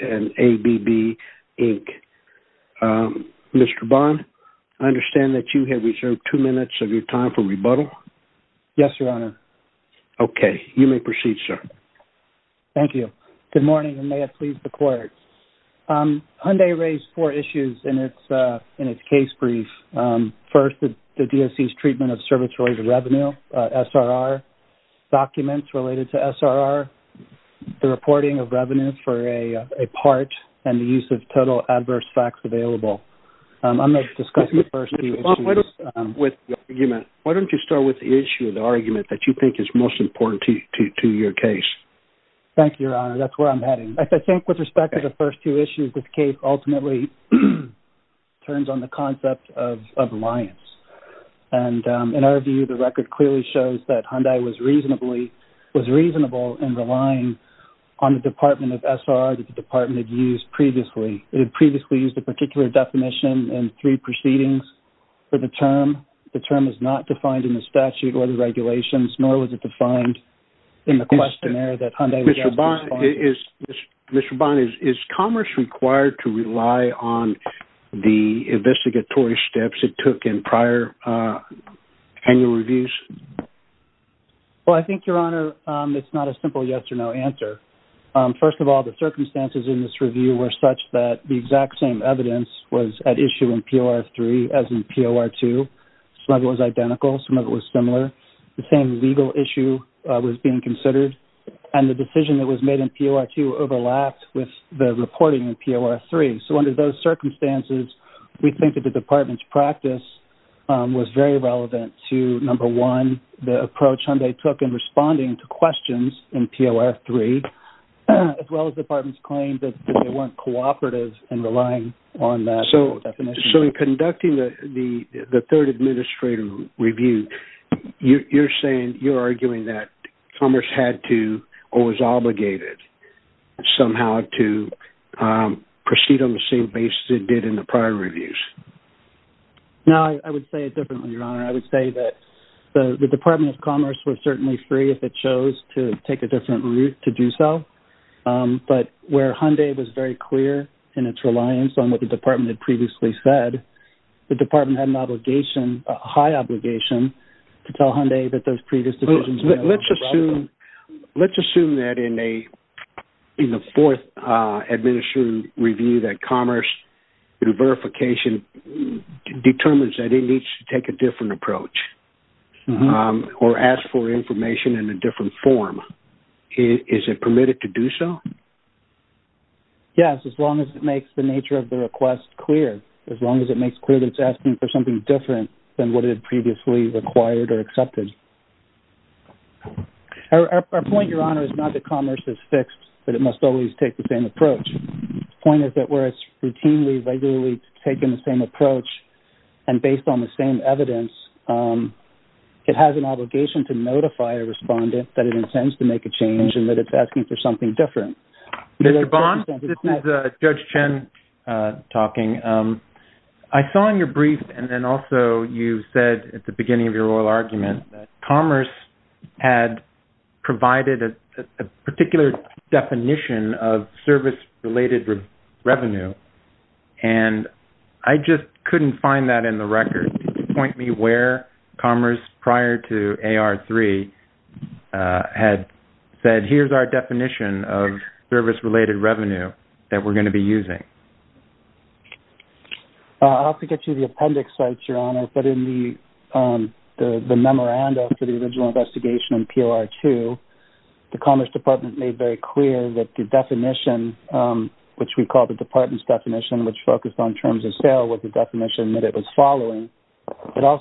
and ABB, Inc. Mr. Bond, I understand that you have reserved two minutes of your time for rebuttal? Yes, Your Honor. Okay, you may proceed, sir. Thank you. Good morning and may it please the Court. Hyundai raised four issues in its case brief. First, the DSC's service-related revenue, SRR, documents related to SRR, the reporting of revenues for a part, and the use of total adverse facts available. I'm going to discuss the first two issues. With the argument, why don't you start with the issue, the argument that you think is most important to your case? Thank you, Your Honor. That's where I'm heading. I think with respect to the first two issues, this case ultimately turns on the concept of reliance. In our view, the record clearly shows that Hyundai was reasonable in relying on the Department of SRR that the Department had used previously. It had previously used a particular definition in three proceedings for the term. The term is not defined in the statute or the regulations, nor was it defined in the questionnaire that Hyundai was asking for. Mr. Bond, is commerce required to rely on the investigatory steps it took in prior annual reviews? Well, I think, Your Honor, it's not a simple yes or no answer. First of all, the circumstances in this review were such that the exact same evidence was at issue in POR3 as in POR2. Some of it was legal issue was being considered, and the decision that was made in POR2 overlapped with the reporting in POR3. Under those circumstances, we think that the Department's practice was very relevant to, number one, the approach Hyundai took in responding to questions in POR3, as well as the Department's claim that they weren't cooperative in relying on that definition. In conducting the third administrator review, you're saying, you're arguing that commerce had to or was obligated somehow to proceed on the same basis it did in the prior reviews. No, I would say it differently, Your Honor. I would say that the Department of Commerce was certainly free if it chose to take a different route to do so. But where Hyundai was very clear in its reliance on what the Department had previously said, the Department had an obligation, a high obligation, to tell Hyundai that those previous decisions were relevant. Let's assume that in the fourth administrator review that commerce, through verification, determines that it needs to take a different approach or ask for information in a different form. Is it permitted to do so? Yes, as long as it makes the nature of the request clear. As long as it makes clear that it's asking for something different than what it had previously required or accepted. Our point, Your Honor, is not that commerce is fixed, but it must always take the same approach. The point is that where it's routinely, regularly taken the same approach and based on the same evidence, it has an obligation to notify a respondent that it intends to make a change and that it's asking for something different. Mr. Bond, this is Judge Chen talking. I saw in your brief and then also you said at the beginning of your oral argument that commerce had provided a particular definition of service-related revenue, and I just couldn't find that in the record. Could you point me where commerce prior to AR-3 had said, here's our definition of service-related revenue that we're going to be using? I'll have to get you the appendix, Your Honor, but in the memorandum to the original investigation in PLR-2, the Commerce Department made very clear that the definition, which we call the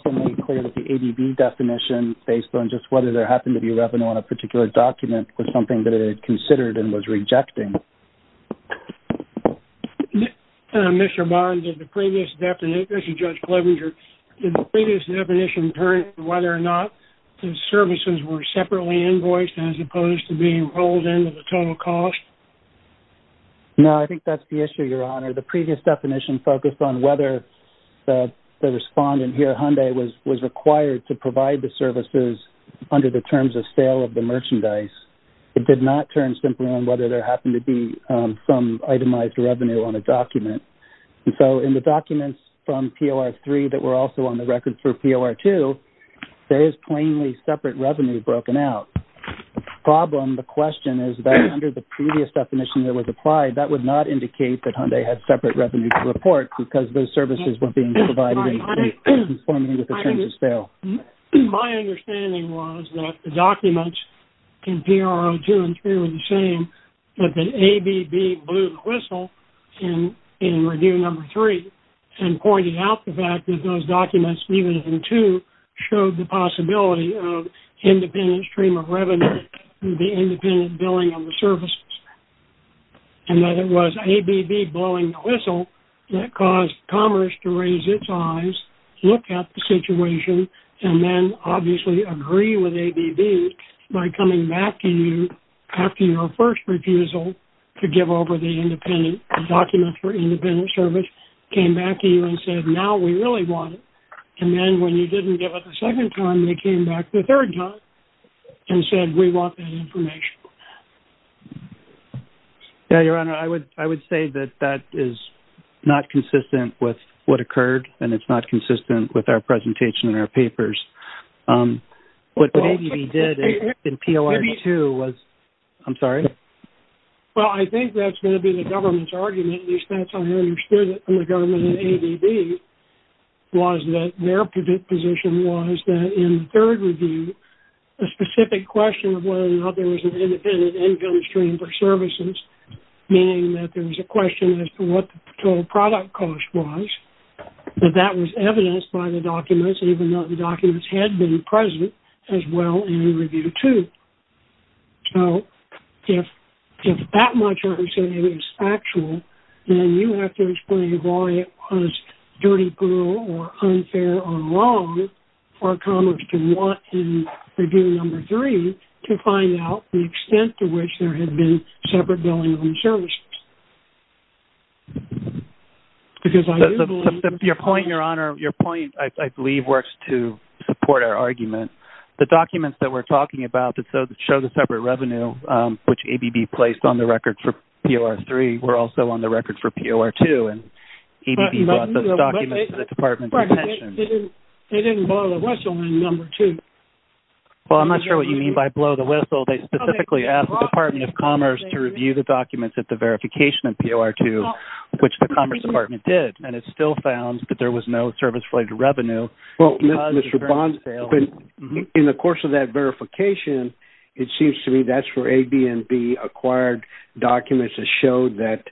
ADB definition, based on just whether there happened to be revenue on a particular document was something that it had considered and was rejecting. Mr. Bond, in the previous definition, whether or not the services were separately invoiced as opposed to being rolled into the total cost? No, I think that's the issue, Your Honor. The previous definition focused on whether the respondent here, Hyundai, was required to provide the services under the terms of sale of the merchandise. It did not turn simply on whether there happened to be some itemized revenue on a document. And so in the documents from PLR-3 that were also on the record for PLR-2, there is plainly separate revenue broken out. The problem, the question is that under the previous definition that was applied, that would not indicate that Hyundai had separate revenue to report because those services were being provided in conforming with the terms of sale. My understanding was that the documents in PLR-2 and 3 were the same, that the ADB blew the whistle in Review Number 3 and pointed out the fact that those documents, even in 2, showed the possibility of independent stream of revenue and the independent billing of the services. And that it was ADB blowing the whistle that caused Commerce to raise its eyes, look at the situation, and then obviously agree with ADB by coming back to you after your first refusal to give over the document for independent service, came back to you and said, now we really want it. And then when you didn't give it the second time, they came back the third time and said, we want that information. Yeah, Your Honor, I would say that that is not consistent with what occurred and it's not consistent with our presentation in our papers. What ADB did in PLR-2 was, I'm sorry? Well, I think that's going to be the government's argument, at least that's how I understood it from the government in ADB, was that their position was that in 3rd Review, the specific question of whether or not there was an independent income stream for services, meaning that there was a question as to what the total product cost was, that that was evidenced by the documents, even though the documents had been present as well in Review 2. So if that much I'm saying is factual, then you have to explain why it was dirty, plural, or unfair, or wrong for Commerce to want in Review No. 3 to find out the extent to which there had been separate billing on services. Your point, Your Honor, your point, I believe, works to support our argument. The documents that we're talking about that show the separate revenue, which ADB placed on the record for PLR-3, were also on the record for PLR-2 and ADB brought those documents to the Department of Commerce. Well, I'm not sure what you mean by blow the whistle. They specifically asked the Department of Commerce to review the documents at the verification of PLR-2, which the Commerce Department did, and it still found that there was no service-related revenue. Well, Mr. Bond, in the course of that verification, it seems to me that's where ADB acquired documents that showed that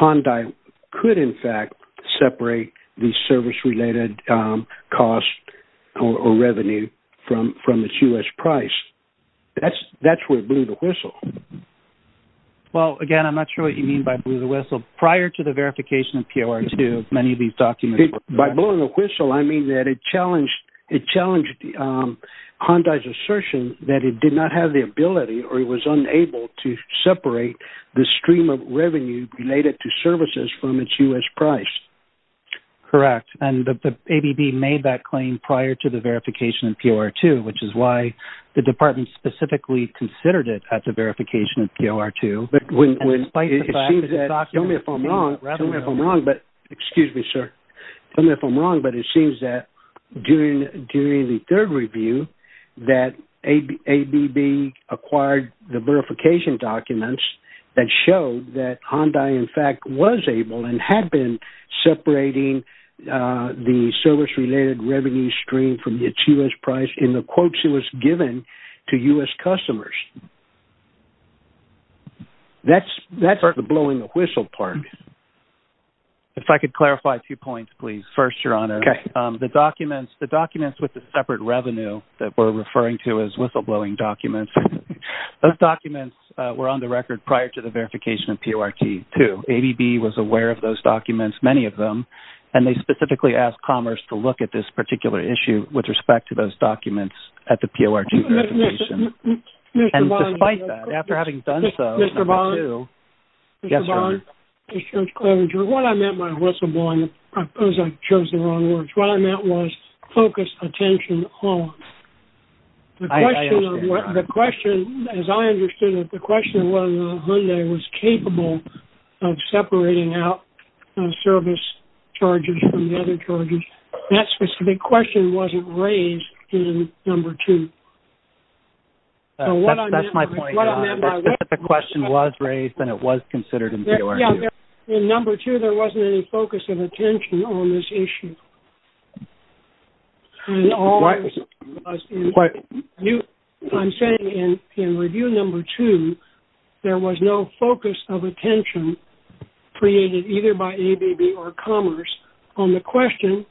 Hyundai could, in fact, separate the service-related cost or revenue from its U.S. price. That's where it blew the whistle. Well, again, I'm not sure what you mean by blew the whistle. Prior to the verification of PLR-2, many of these documents were... By blowing the whistle, I mean that it challenged Hyundai's assertion that it did not have the revenue related to services from its U.S. price. Correct. And ADB made that claim prior to the verification of PLR-2, which is why the department specifically considered it at the verification of PLR-2. Tell me if I'm wrong, but it seems that during the third review that ADB acquired the verification documents that showed that Hyundai, in fact, was able and had been separating the service-related revenue stream from its U.S. price in the quotes it was given to U.S. customers. That's the blowing the whistle part. If I could clarify two points, please. First, Your Honor, the documents with the separate revenue that we're referring to as whistleblowing documents, those documents were on the record prior to the verification of PLR-2. ADB was aware of those documents, many of them, and they specifically asked Commerce to look at this particular issue with respect to those documents at the PLR-2 verification. And despite that, after having done so... Mr. Bond? Yes, Your Honor. Mr. Bond, Mr. Clavenger, when I meant by whistleblowing, I suppose I chose the wrong words. What I meant was focus attention on. I understand, Your Honor. The question, as I understood it, the question was whether Hyundai was capable of separating out service charges from the other charges. That specific question wasn't raised in Number 2. That's my point. If the question was raised, then it was considered in PLR-2. In Number 2, there wasn't any focus of attention on this issue. I'm saying in Review Number 2, there was no focus of attention created either by ADB or Commerce on the question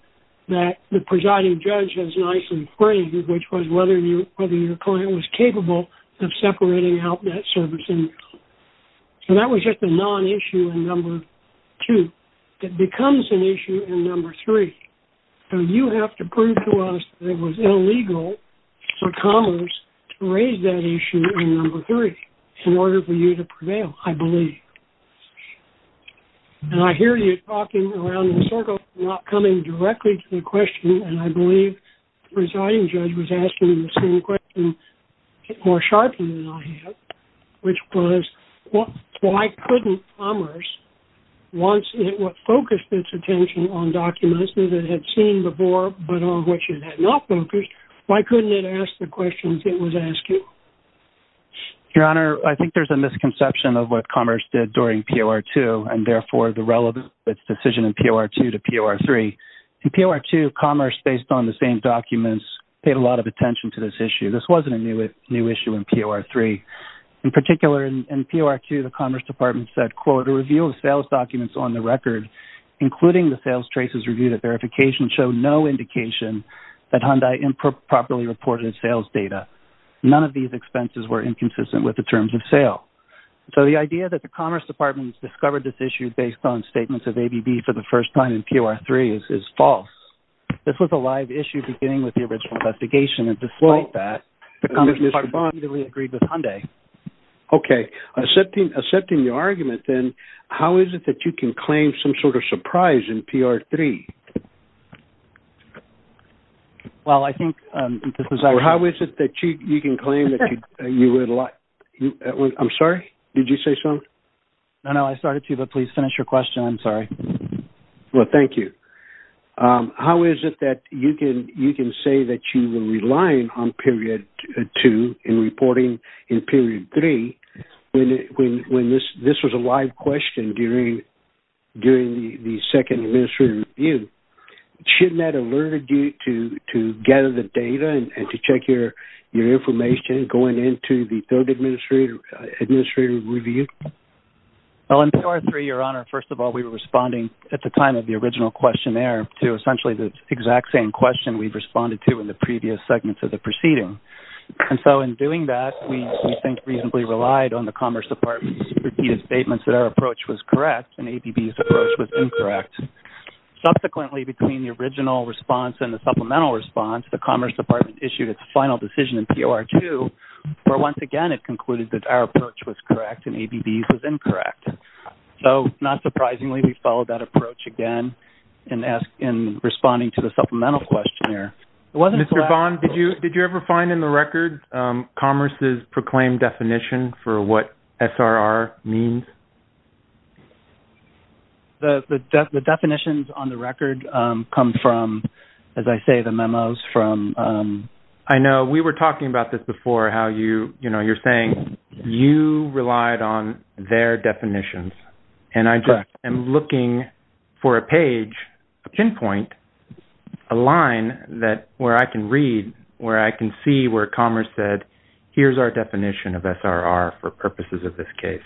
that the presiding judge has nicely phrased, which was whether your client was capable of separating out that service income. So that was just a non-issue in Number 2. It becomes an issue in Number 3. So you have to prove to us that it was illegal for Commerce to raise that issue in Number 3 in order for you to prevail, I believe. And I hear you talking around the circle, not coming directly to the question, and I believe the presiding judge was asking the same question more sharply than I have, which was, why couldn't Commerce, once it focused its attention on documents that it had seen before but on which it had not focused, why couldn't it ask the questions it was asking? Your Honor, I think there's a misconception of what Commerce did during PLR-2 and therefore the relevance of its decision in PLR-2 to PLR-3. In PLR-2, Commerce, based on the same documents, paid a lot of attention to this issue. This wasn't a new issue in PLR-3. In particular, in PLR-2, the Commerce Department said, quote, a review of sales documents on the record, including the sales traces reviewed at verification, showed no indication that Hyundai improperly reported sales data. None of these expenses were inconsistent with the terms of sale. So the idea that the Commerce Department discovered this issue based on statements of ABB for the first time in PLR-3 is false. This was a live issue beginning with the original investigation, and despite that, the Commerce Department agreed with Hyundai. Okay. Accepting your argument, then, how is it that you can claim some sort of surprise in PLR-3? Well, I think this is... How is it that you can claim that you would... I'm sorry? Did you say something? No, no. I started, too, but please finish your question. I'm sorry. Well, thank you. How is it that you can say that you were relying on PLR-2 in reporting in PLR-3 when this was a live question during the second administrative review? Shouldn't that have alerted you to gather the data and to check your information going into the third administrative review? Well, in PLR-3, Your Honor, first of all, we were responding at the time of the original questionnaire to essentially the exact same question we've responded to in the previous segments of the proceeding. And so in doing that, we think reasonably relied on the Commerce Department's repeated statements that our approach was correct and ABB's approach was incorrect. Subsequently, between the original response and the supplemental response, the Commerce Department issued its final decision in PLR-2 where, once again, it concluded that our approach was correct and ABB's was incorrect. So not surprisingly, we followed that approach again in responding to the supplemental questionnaire. Mr. Bond, did you ever find in the record Commerce's proclaimed definition for what SRR means? The definitions on the record come from, as I say, the memos from... I know. We were talking about this before, how you're saying you relied on their definitions. And I just am looking for a page, a pinpoint, a line where I can read, where I can see where Commerce said, here's our definition of SRR for purposes of this case.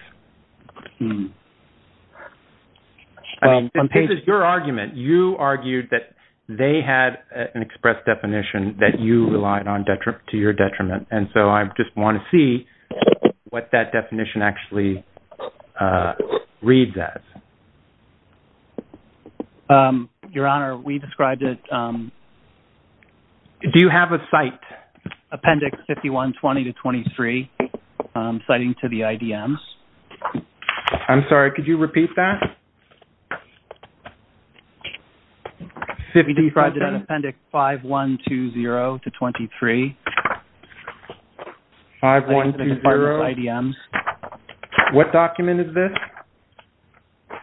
I mean, this is your argument. You argued that they had an express definition that you relied to your detriment. And so I just want to see what that definition actually reads as. Your Honor, we described it... Do you have a cite? Appendix 51-20-23, citing to the IDM. I'm sorry, could you repeat that? We described it as Appendix 51-20-23, citing to the Department of IDM. What document is this?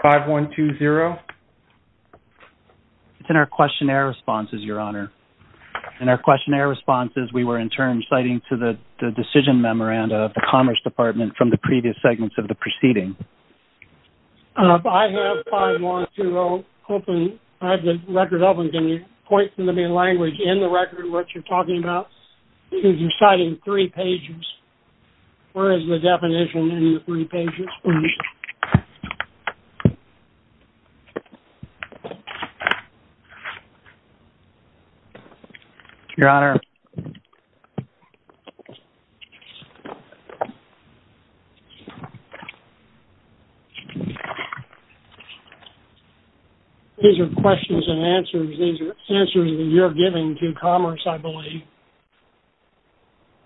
51-20? It's in our questionnaire responses, Your Honor. In our questionnaire responses, we were in turn citing to the decision memoranda of the Commerce Department from the previous segments of the case. Appendix 51-20, I have the record open. Can you point from the main language in the record what you're talking about? Because you're citing three pages. Where is the definition in the three pages? Your Honor. These are questions and answers. These are answers that you're giving to Commerce, I believe.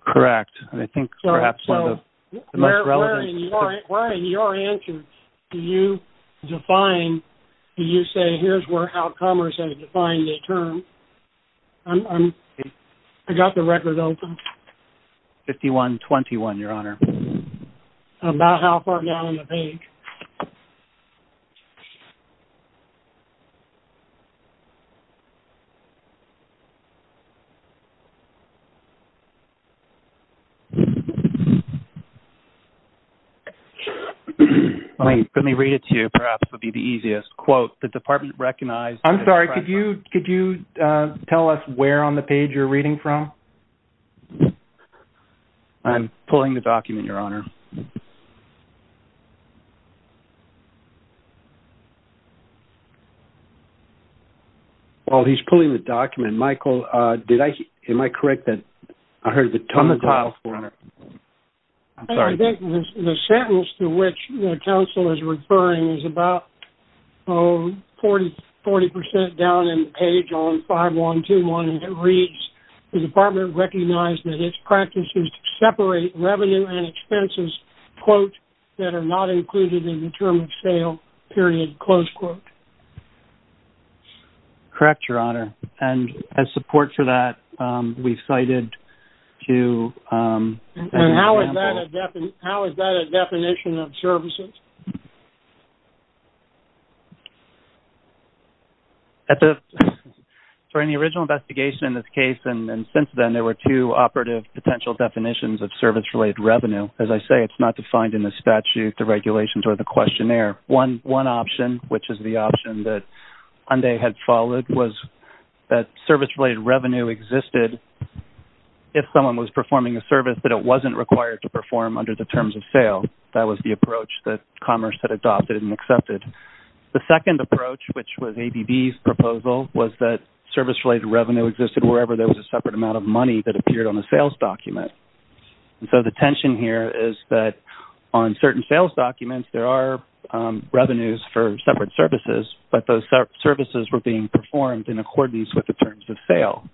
Correct. I think perhaps one of the most relevant... Where in your answer do you define, do you say, here's how Commerce has defined the term? I got the record open. 51-21, Your Honor. About how far down in the page? Let me read it to you. Perhaps it would be the easiest. Quote, the department recognized... I'm sorry, could you tell us where on the page you're reading from? I'm pulling the document, Your Honor. While he's pulling the document, Michael, am I correct that I heard the term... I think the sentence to which the counsel is referring is about 40% down in the page on the page. The department recognized that its practices separate revenue and expenses, quote, that are not included in the term of sale, period, close quote. Correct, Your Honor. And as support for that, we've cited to... And how is that a definition of services? At the... During the original investigation in this case, and since then, there were two operative potential definitions of service-related revenue. As I say, it's not defined in the statute, the regulations, or the questionnaire. One option, which is the option that Ande had followed, was that service-related revenue existed if someone was performing a service that it wasn't required to perform under the terms of sale. That was the approach that Commerce had adopted and accepted. The second approach, which was ADB's proposal, was that service-related revenue existed wherever there was a separate amount of money that appeared on the sales document. And so, the tension here is that on certain sales documents, there are revenues for separate services, but those services were being performed in accordance with the terms of sale.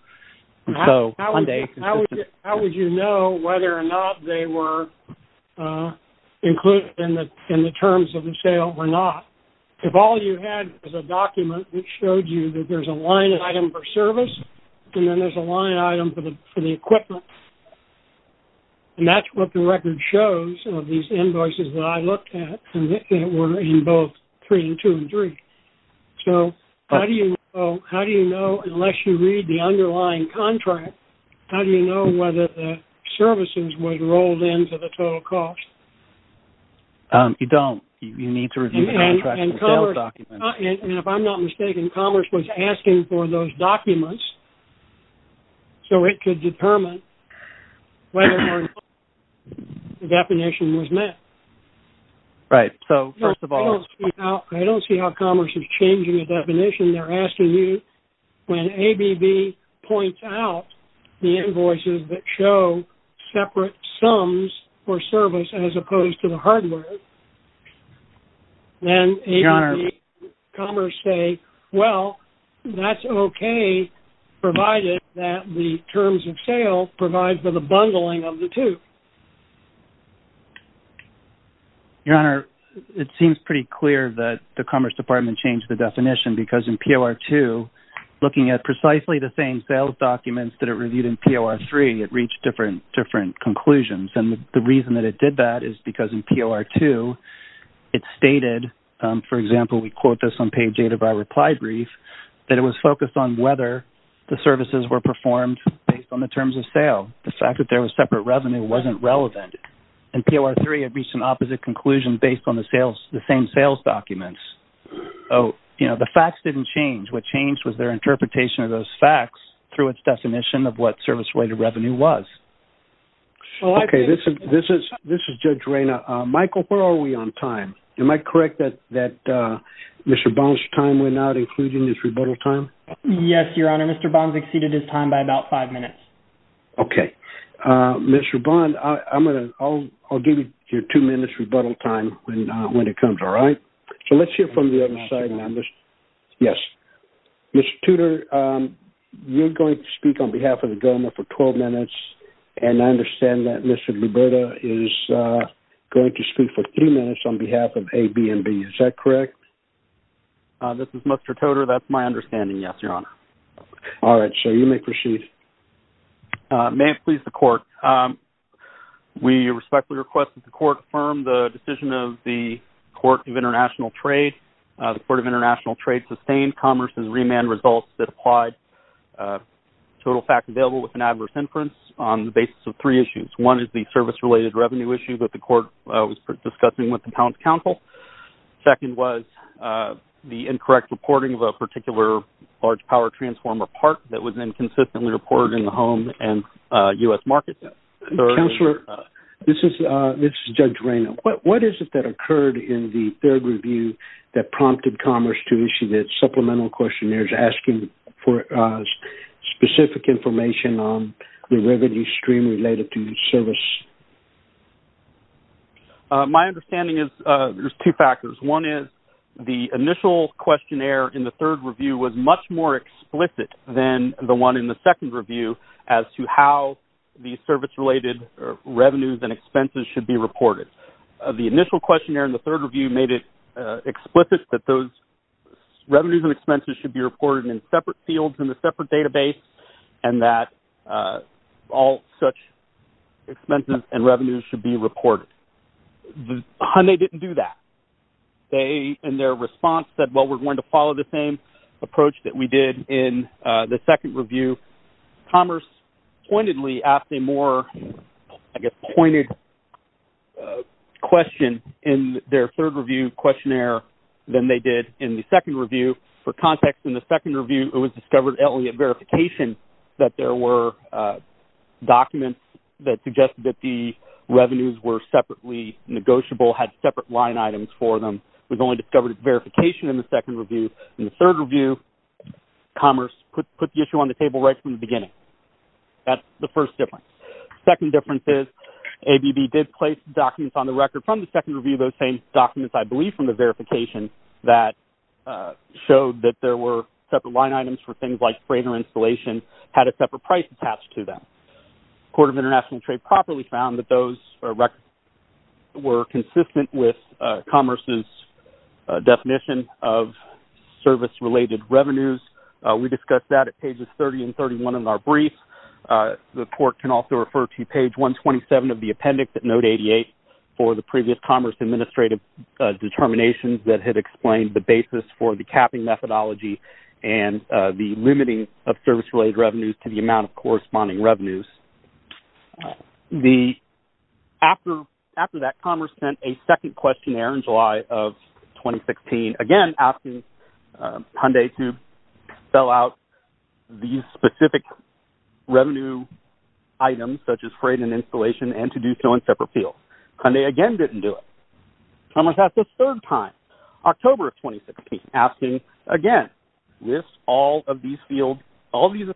And so, Ande... How would you know whether or not they were included in the terms of the sale or not? If all you had was a document that showed you that there's a line item for service, and then there's a line item for the equipment, and that's what the record shows of these invoices that I looked at, and they were in both three and two and three. So, how do you know, unless you read the underlying contract, how do you know whether the cost... You don't. You need to review the contract... And if I'm not mistaken, Commerce was asking for those documents so it could determine whether or not the definition was met. Right. So, first of all... I don't see how Commerce is changing the definition. They're pointing out the invoices that show separate sums for service as opposed to the hardware. And ABB, Commerce say, well, that's okay, provided that the terms of sale provides for the bundling of the two. Your Honor, it seems pretty clear that the Commerce Department changed the definition because in POR2, looking at precisely the same sales documents that are reviewed in POR3, it reached different conclusions. And the reason that it did that is because in POR2, it stated, for example, we quote this on page eight of our reply brief, that it was focused on whether the services were performed based on the terms of sale. The fact that there was separate revenue wasn't relevant. In POR3, it reached an opposite conclusion based on the same sales documents. So, you know, the facts didn't change. What changed was their interpretation of those facts through its definition of what service-related revenue was. Okay. This is Judge Reyna. Michael, where are we on time? Am I correct that Mr. Bond's time went out, including his rebuttal time? Yes, Your Honor. Mr. Bond's exceeded his time by about five minutes. Okay. Mr. Bond, I'll give you your two minutes rebuttal time when it comes, all right? So, let's hear from the other side members. Yes. Mr. Tudor, you're going to speak on behalf of the government for 12 minutes, and I understand that Mr. Liberta is going to speak for three minutes on behalf of A, B, and B. Is that correct? This is Mr. Tudor. That's my name. May it please the court. We respectfully request that the court affirm the decision of the Court of International Trade. The Court of International Trade sustained Commerce's remand results that applied total facts available with an adverse inference on the basis of three issues. One is the service-related revenue issue that the court was discussing with the Town's Council. Second was the incorrect reporting of a particular large power transformer part that was inconsistently reported in the home and U.S. market. Counselor, this is Judge Rayna. What is it that occurred in the third review that prompted Commerce to issue the supplemental questionnaires asking for specific information on the revenue stream related to the service? My understanding is there's two factors. One is the initial questionnaire in the third review was much more explicit than the one in the second review as to how the service-related revenues and expenses should be reported. The initial questionnaire in the third review made it explicit that those revenues and expenses should be reported in separate fields in a separate database and that all such expenses and revenues should be reported. Hyundai didn't do that. They, in their response, said, well, we're going to follow the same approach that we did in the second review. Commerce pointedly asked a more, I guess, pointed question in their third review questionnaire than they did in the second review. For context, in the second review, it was discovered only at verification that there were documents that suggested that the revenues were separately negotiable, had separate line items for them. It was only discovered at verification in the second review. In the third review, Commerce put the issue on the table right from the beginning. That's the first difference. Second difference is ABB did place documents on the record from the second review, those same documents, I believe, from the verification that showed that there were separate line items for things like freighter installation, had a separate price attached to them. Court of International Trade properly found that those were consistent with Commerce's definition of service-related revenues. We discussed that at pages 30 and 31 of our brief. The court can also refer to page 127 of the appendix at note 88 for the previous Commerce administrative determinations that had explained the basis for the capping methodology and the revenues. After that, Commerce sent a second questionnaire in July of 2016, again, asking Hyundai to fill out these specific revenue items such as freight and installation and to do so in separate fields. Hyundai, again, didn't do it. Commerce asked a third time, October of 2016, asking, again, with all of these fields, all these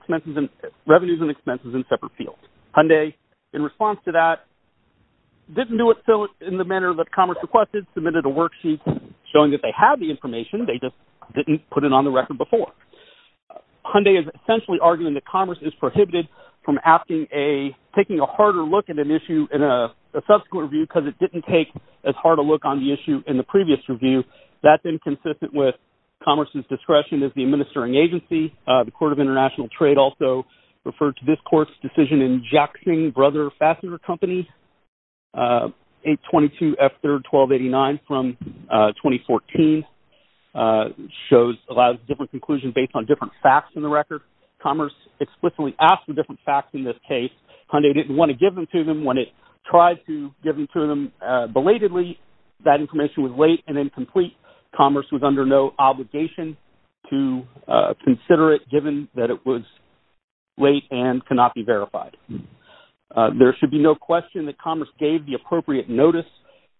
revenues and expenses in separate fields. Hyundai, in response to that, didn't do it in the manner that Commerce requested, submitted a worksheet showing that they had the information, they just didn't put it on the record before. Hyundai is essentially arguing that Commerce is prohibited from taking a harder look at an issue in a subsequent review because it didn't take as hard a look on the issue in the previous review. That's inconsistent with Commerce's discretion as the administering agency. The Court of International Trade also referred to this court's decision in Jackson & Brothers Fasteners Company, 822F3R1289 from 2014, shows a lot of different conclusions based on different facts in the record. Commerce explicitly asked for different facts in this case. Hyundai didn't want to give them to them when it tried to belatedly. That information was late and incomplete. Commerce was under no obligation to consider it given that it was late and cannot be verified. There should be no question that Commerce gave the appropriate notice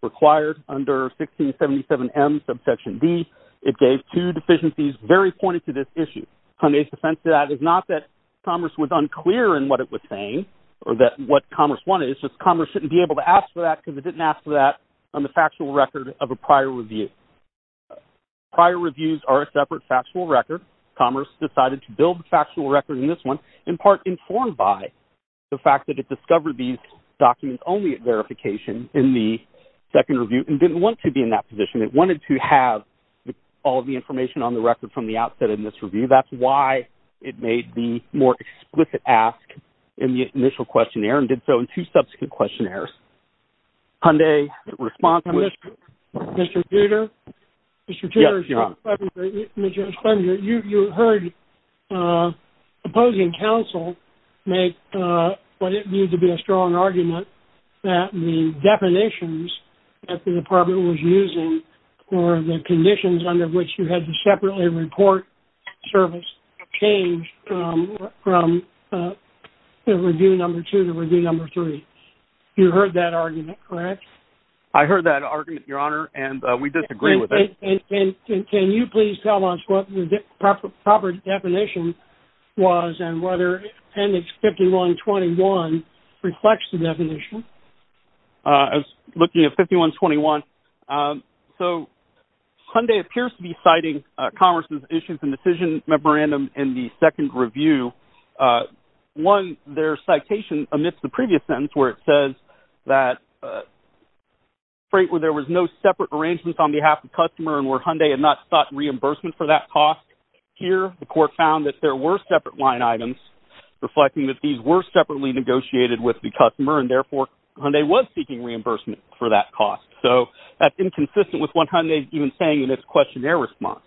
required under 1677M subsection D. It gave two deficiencies very pointed to this issue. Hyundai's defense to that is not that Commerce was unclear in what it was saying or that what Commerce wanted. It's just Commerce shouldn't be able to ask for that because it didn't ask for that on the factual record of a prior review. Prior reviews are a separate factual record. Commerce decided to build the factual record in this one in part informed by the fact that it discovered these documents only at verification in the second review and didn't want to be in that position. It wanted to have all of the information on the record from the questionnaire and did so in two subsequent questionnaires. Hyundai's response... Mr. Tudor, you heard opposing counsel make what it viewed to be a strong argument that the definitions that the department was using or the conditions under which you had to separately report service changed from review number two to review number three. You heard that argument, correct? I heard that argument, Your Honor, and we disagree with it. Can you please tell us what the proper definition was and whether appendix 5121 reflects the definition? I was looking at 5121. So Hyundai appears to be citing Commerce's issues and decision memorandum in the second review. One, their citation amidst the previous sentence where it says that frankly there was no separate arrangements on behalf of the customer and where Hyundai had not sought reimbursement for that cost. Here, the court found that there were separate line items reflecting that these were separately negotiated with the customer and therefore Hyundai was seeking reimbursement for that cost. So that's inconsistent with what Hyundai even saying in its questionnaire response.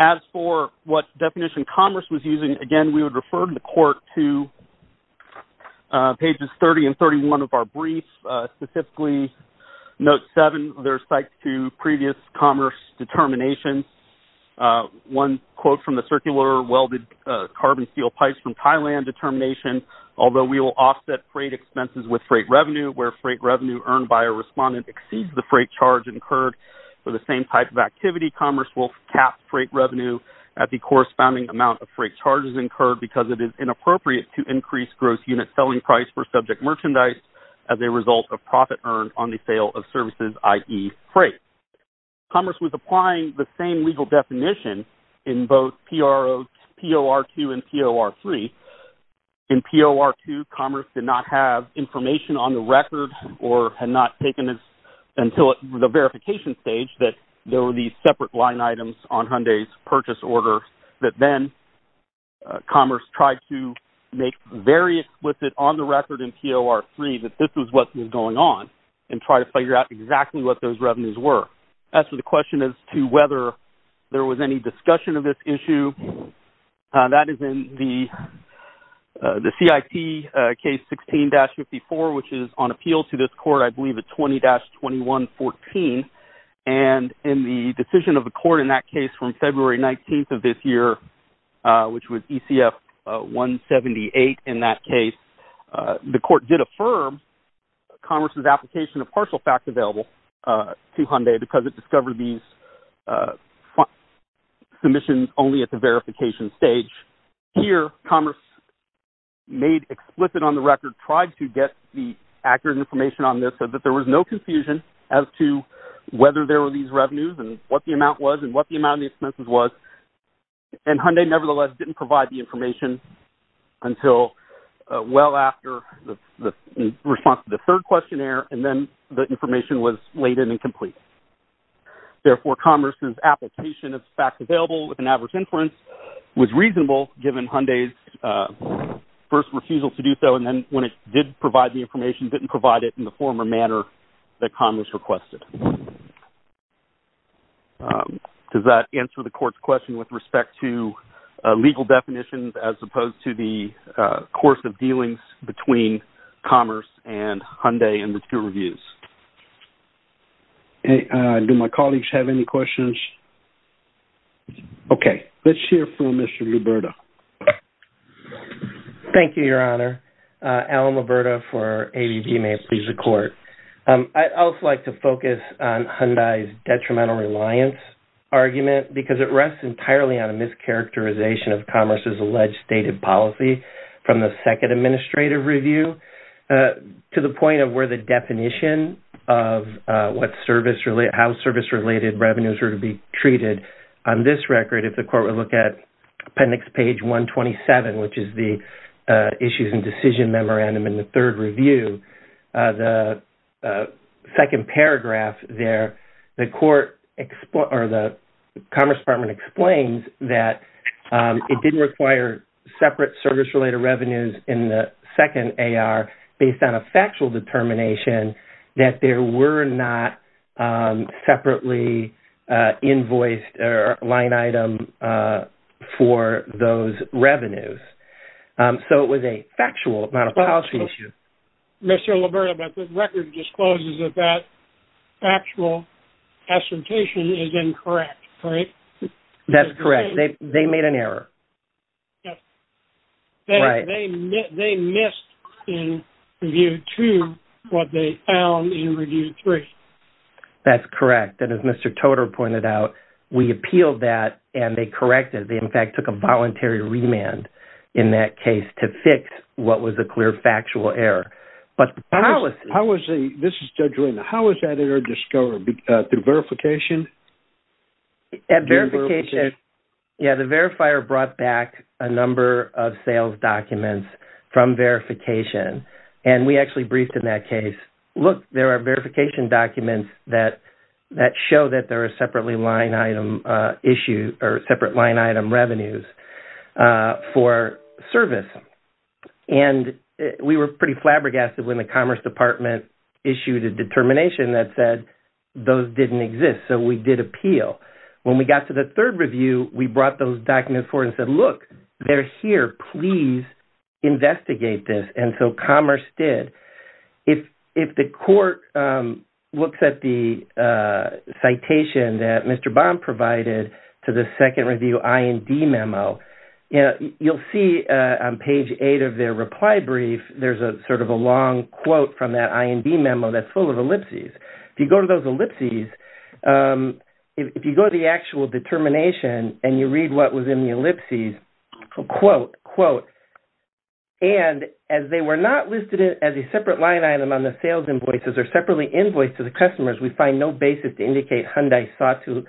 As for what definition Commerce was using, again, we would refer the court to pages 30 and 31 of our brief, specifically note 7, their cite to previous Commerce determination. One quote from the circular welded carbon steel pipes from Thailand determination, although we will offset freight expenses with freight revenue where freight revenue earned by a respondent exceeds the freight charge incurred for the same type of activity, Commerce will cap freight revenue at the corresponding amount of freight charges incurred because it is inappropriate to increase gross unit selling price for subject merchandise as a result of profit earned on the sale of services, i.e. freight. Commerce was applying the same legal definition in both POR2 and POR3. In POR2, Commerce did not have information on the record or had not taken this until the verification stage that there were these separate line items on Hyundai's purchase order that then Commerce tried to make very explicit on the record in POR3 that this was what was going on and try to figure out exactly what those revenues were. As for the question as to whether there was any discussion of this issue, that is in the CIT case 16-54, which is on appeal to this court, I believe at 20-2114, and in the decision of the court in that case from February 19th of this year, which was ECF 178 in that case, the court did affirm Commerce's application of partial fact available to Hyundai because it discovered these submissions only at the verification stage. Here, Commerce made explicit on the record, tried to get the accurate information on this so that there was no confusion as to whether there were these revenues and what the amount was and what the amount of the expenses was, and Hyundai nevertheless did not provide the information until well after the response to the third questionnaire and then the information was laid in and complete. Therefore, Commerce's application of fact available with an average inference was reasonable given Hyundai's first refusal to do so, and then when it did provide the information, didn't provide it in the former manner that Commerce requested. Does that answer the court's question with respect to legal definitions as opposed to the course of dealings between Commerce and Hyundai in the two reviews? Do my colleagues have any questions? Okay, let's hear from Mr. Liberta. Thank you, Your Honor. Allen Liberta for ADB Mayors Visa Court. I'd also like to focus on Hyundai's detrimental reliance argument because it rests entirely on a mischaracterization of Commerce's alleged stated policy from the second administrative review to the point of where the definition of what service, how service-related revenues are to be treated. On this record, if the court would look at appendix page 127, which is the issues and decision memorandum in the third review, the second paragraph there, the Commerce Department explains that it didn't require separate service-related revenues in the second AR based on a factual determination that there were not separately invoiced or line item for those revenues. So, it was a mischaracterization. Mr. Liberta, but the record discloses that that factual assertion is incorrect, right? That's correct. They made an error. Yes. They missed in review two what they found in review three. That's correct. And as Mr. Toder pointed out, we appealed that and they corrected. They, in fact, took a voluntary remand in that case to fix what was a clear factual error. But the policy- How was the, this is Judge Reyna, how was that error discovered? Through verification? At verification, yeah, the verifier brought back a number of sales documents from verification. And we actually briefed in that case, look, there are verification documents that show that there were separate revenues for service. And we were pretty flabbergasted when the Commerce Department issued a determination that said those didn't exist. So, we did appeal. When we got to the third review, we brought those documents forward and said, look, they're here, please investigate this. And so, Commerce did. If the court looks at the citation that Mr. Baum provided to the second review IND memo, you'll see on page eight of their reply brief, there's a sort of a long quote from that IND memo that's full of ellipses. If you go to those ellipses, if you go to the actual determination and you read what was in the ellipses, quote, quote, and as they were not listed as a separate line item on the sales invoices or separately invoiced to the customers, we find no basis to indicate Hyundai sought to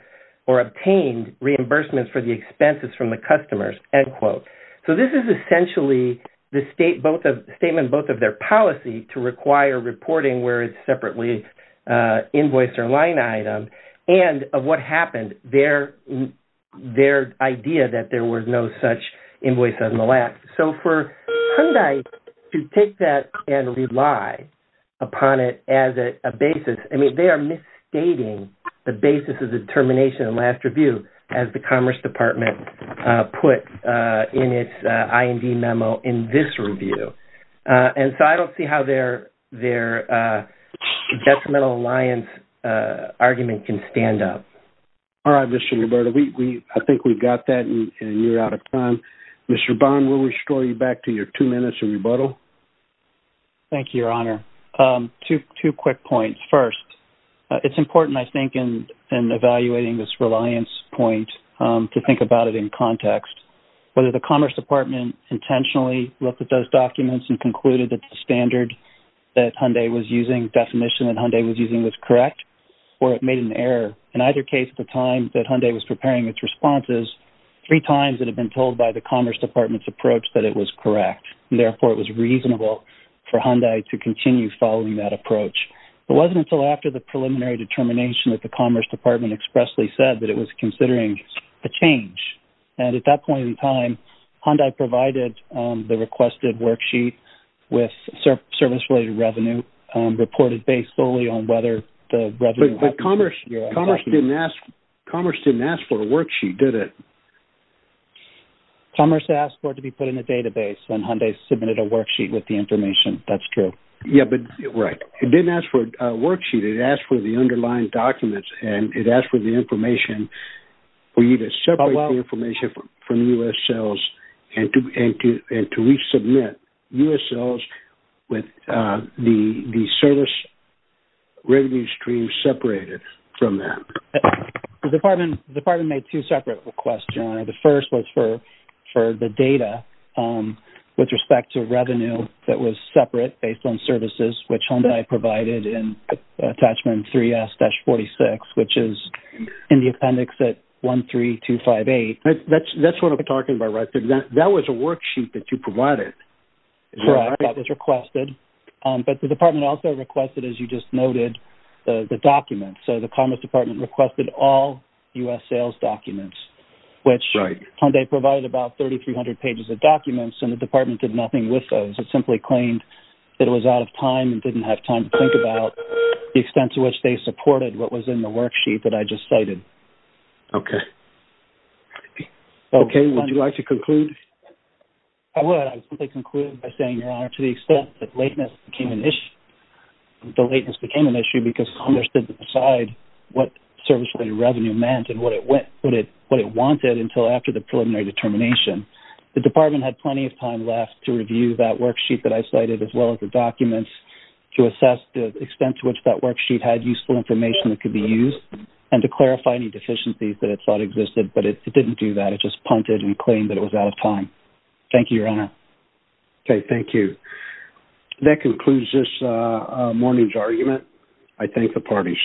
or obtained reimbursements for the expenses from the customers, end quote. So, this is essentially the statement both of their policy to require reporting where it's separately invoiced or line item and of what happened, their idea that there were no such invoices in the last. So, for Hyundai to take that and rely upon it as a basis, I mean, they are misstating the basis of the determination in the last review as the Commerce Department put in its IND memo in this review. And so, I don't see how their detrimental alliance argument can stand up. All right, Mr. Roberta, I think we've got that and you're out of time. Mr. Baum, we'll restore you back to your two minutes of rebuttal. Thank you, Your Honor. Two quick points. First, it's important, I think, in evaluating this reliance point to think about it in context, whether the Commerce Department intentionally looked at those documents and concluded that the standard that Hyundai was using, definition that Hyundai was using was correct or it made an error. In either case, at the time that Hyundai was preparing its responses, three times it had been told by the Commerce Department's was correct. Therefore, it was reasonable for Hyundai to continue following that approach. It wasn't until after the preliminary determination that the Commerce Department expressly said that it was considering a change. And at that point in time, Hyundai provided the requested worksheet with service-related revenue reported based solely on whether the revenue... But Commerce didn't ask for a worksheet, did it? No. Commerce asked for it to be put in a database when Hyundai submitted a worksheet with the information. That's true. Yes, but... Right. It didn't ask for a worksheet. It asked for the underlying documents and it asked for the information for you to separate the information from U.S. sales and to resubmit U.S. sales with the service revenue stream separated from that. The department made two separate requests, John. The first was for the data with respect to revenue that was separate based on services, which Hyundai provided in attachment 3S-46, which is in the appendix at 13258. That's what I'm talking about, right? That was a worksheet that you provided. Correct. That was requested. But the department also requested, as you just noted, the documents. So the Commerce Department requested all U.S. sales documents, which Hyundai provided about 3,300 pages of documents and the department did nothing with those. It simply claimed that it was out of time and didn't have time to think about the extent to which they supported what was in the worksheet that I just cited. Okay. Okay. Would you like to conclude? I would. I would simply conclude by saying, Your Honor, to the extent that became an issue because Congress didn't decide what service revenue meant and what it wanted until after the preliminary determination, the department had plenty of time left to review that worksheet that I cited as well as the documents to assess the extent to which that worksheet had useful information that could be used and to clarify any deficiencies that it thought existed, but it didn't do that. It just punted and claimed that it was out of time. Thank you, Your Honor. Okay. Thank you. That concludes this morning's argument. I thank the parties.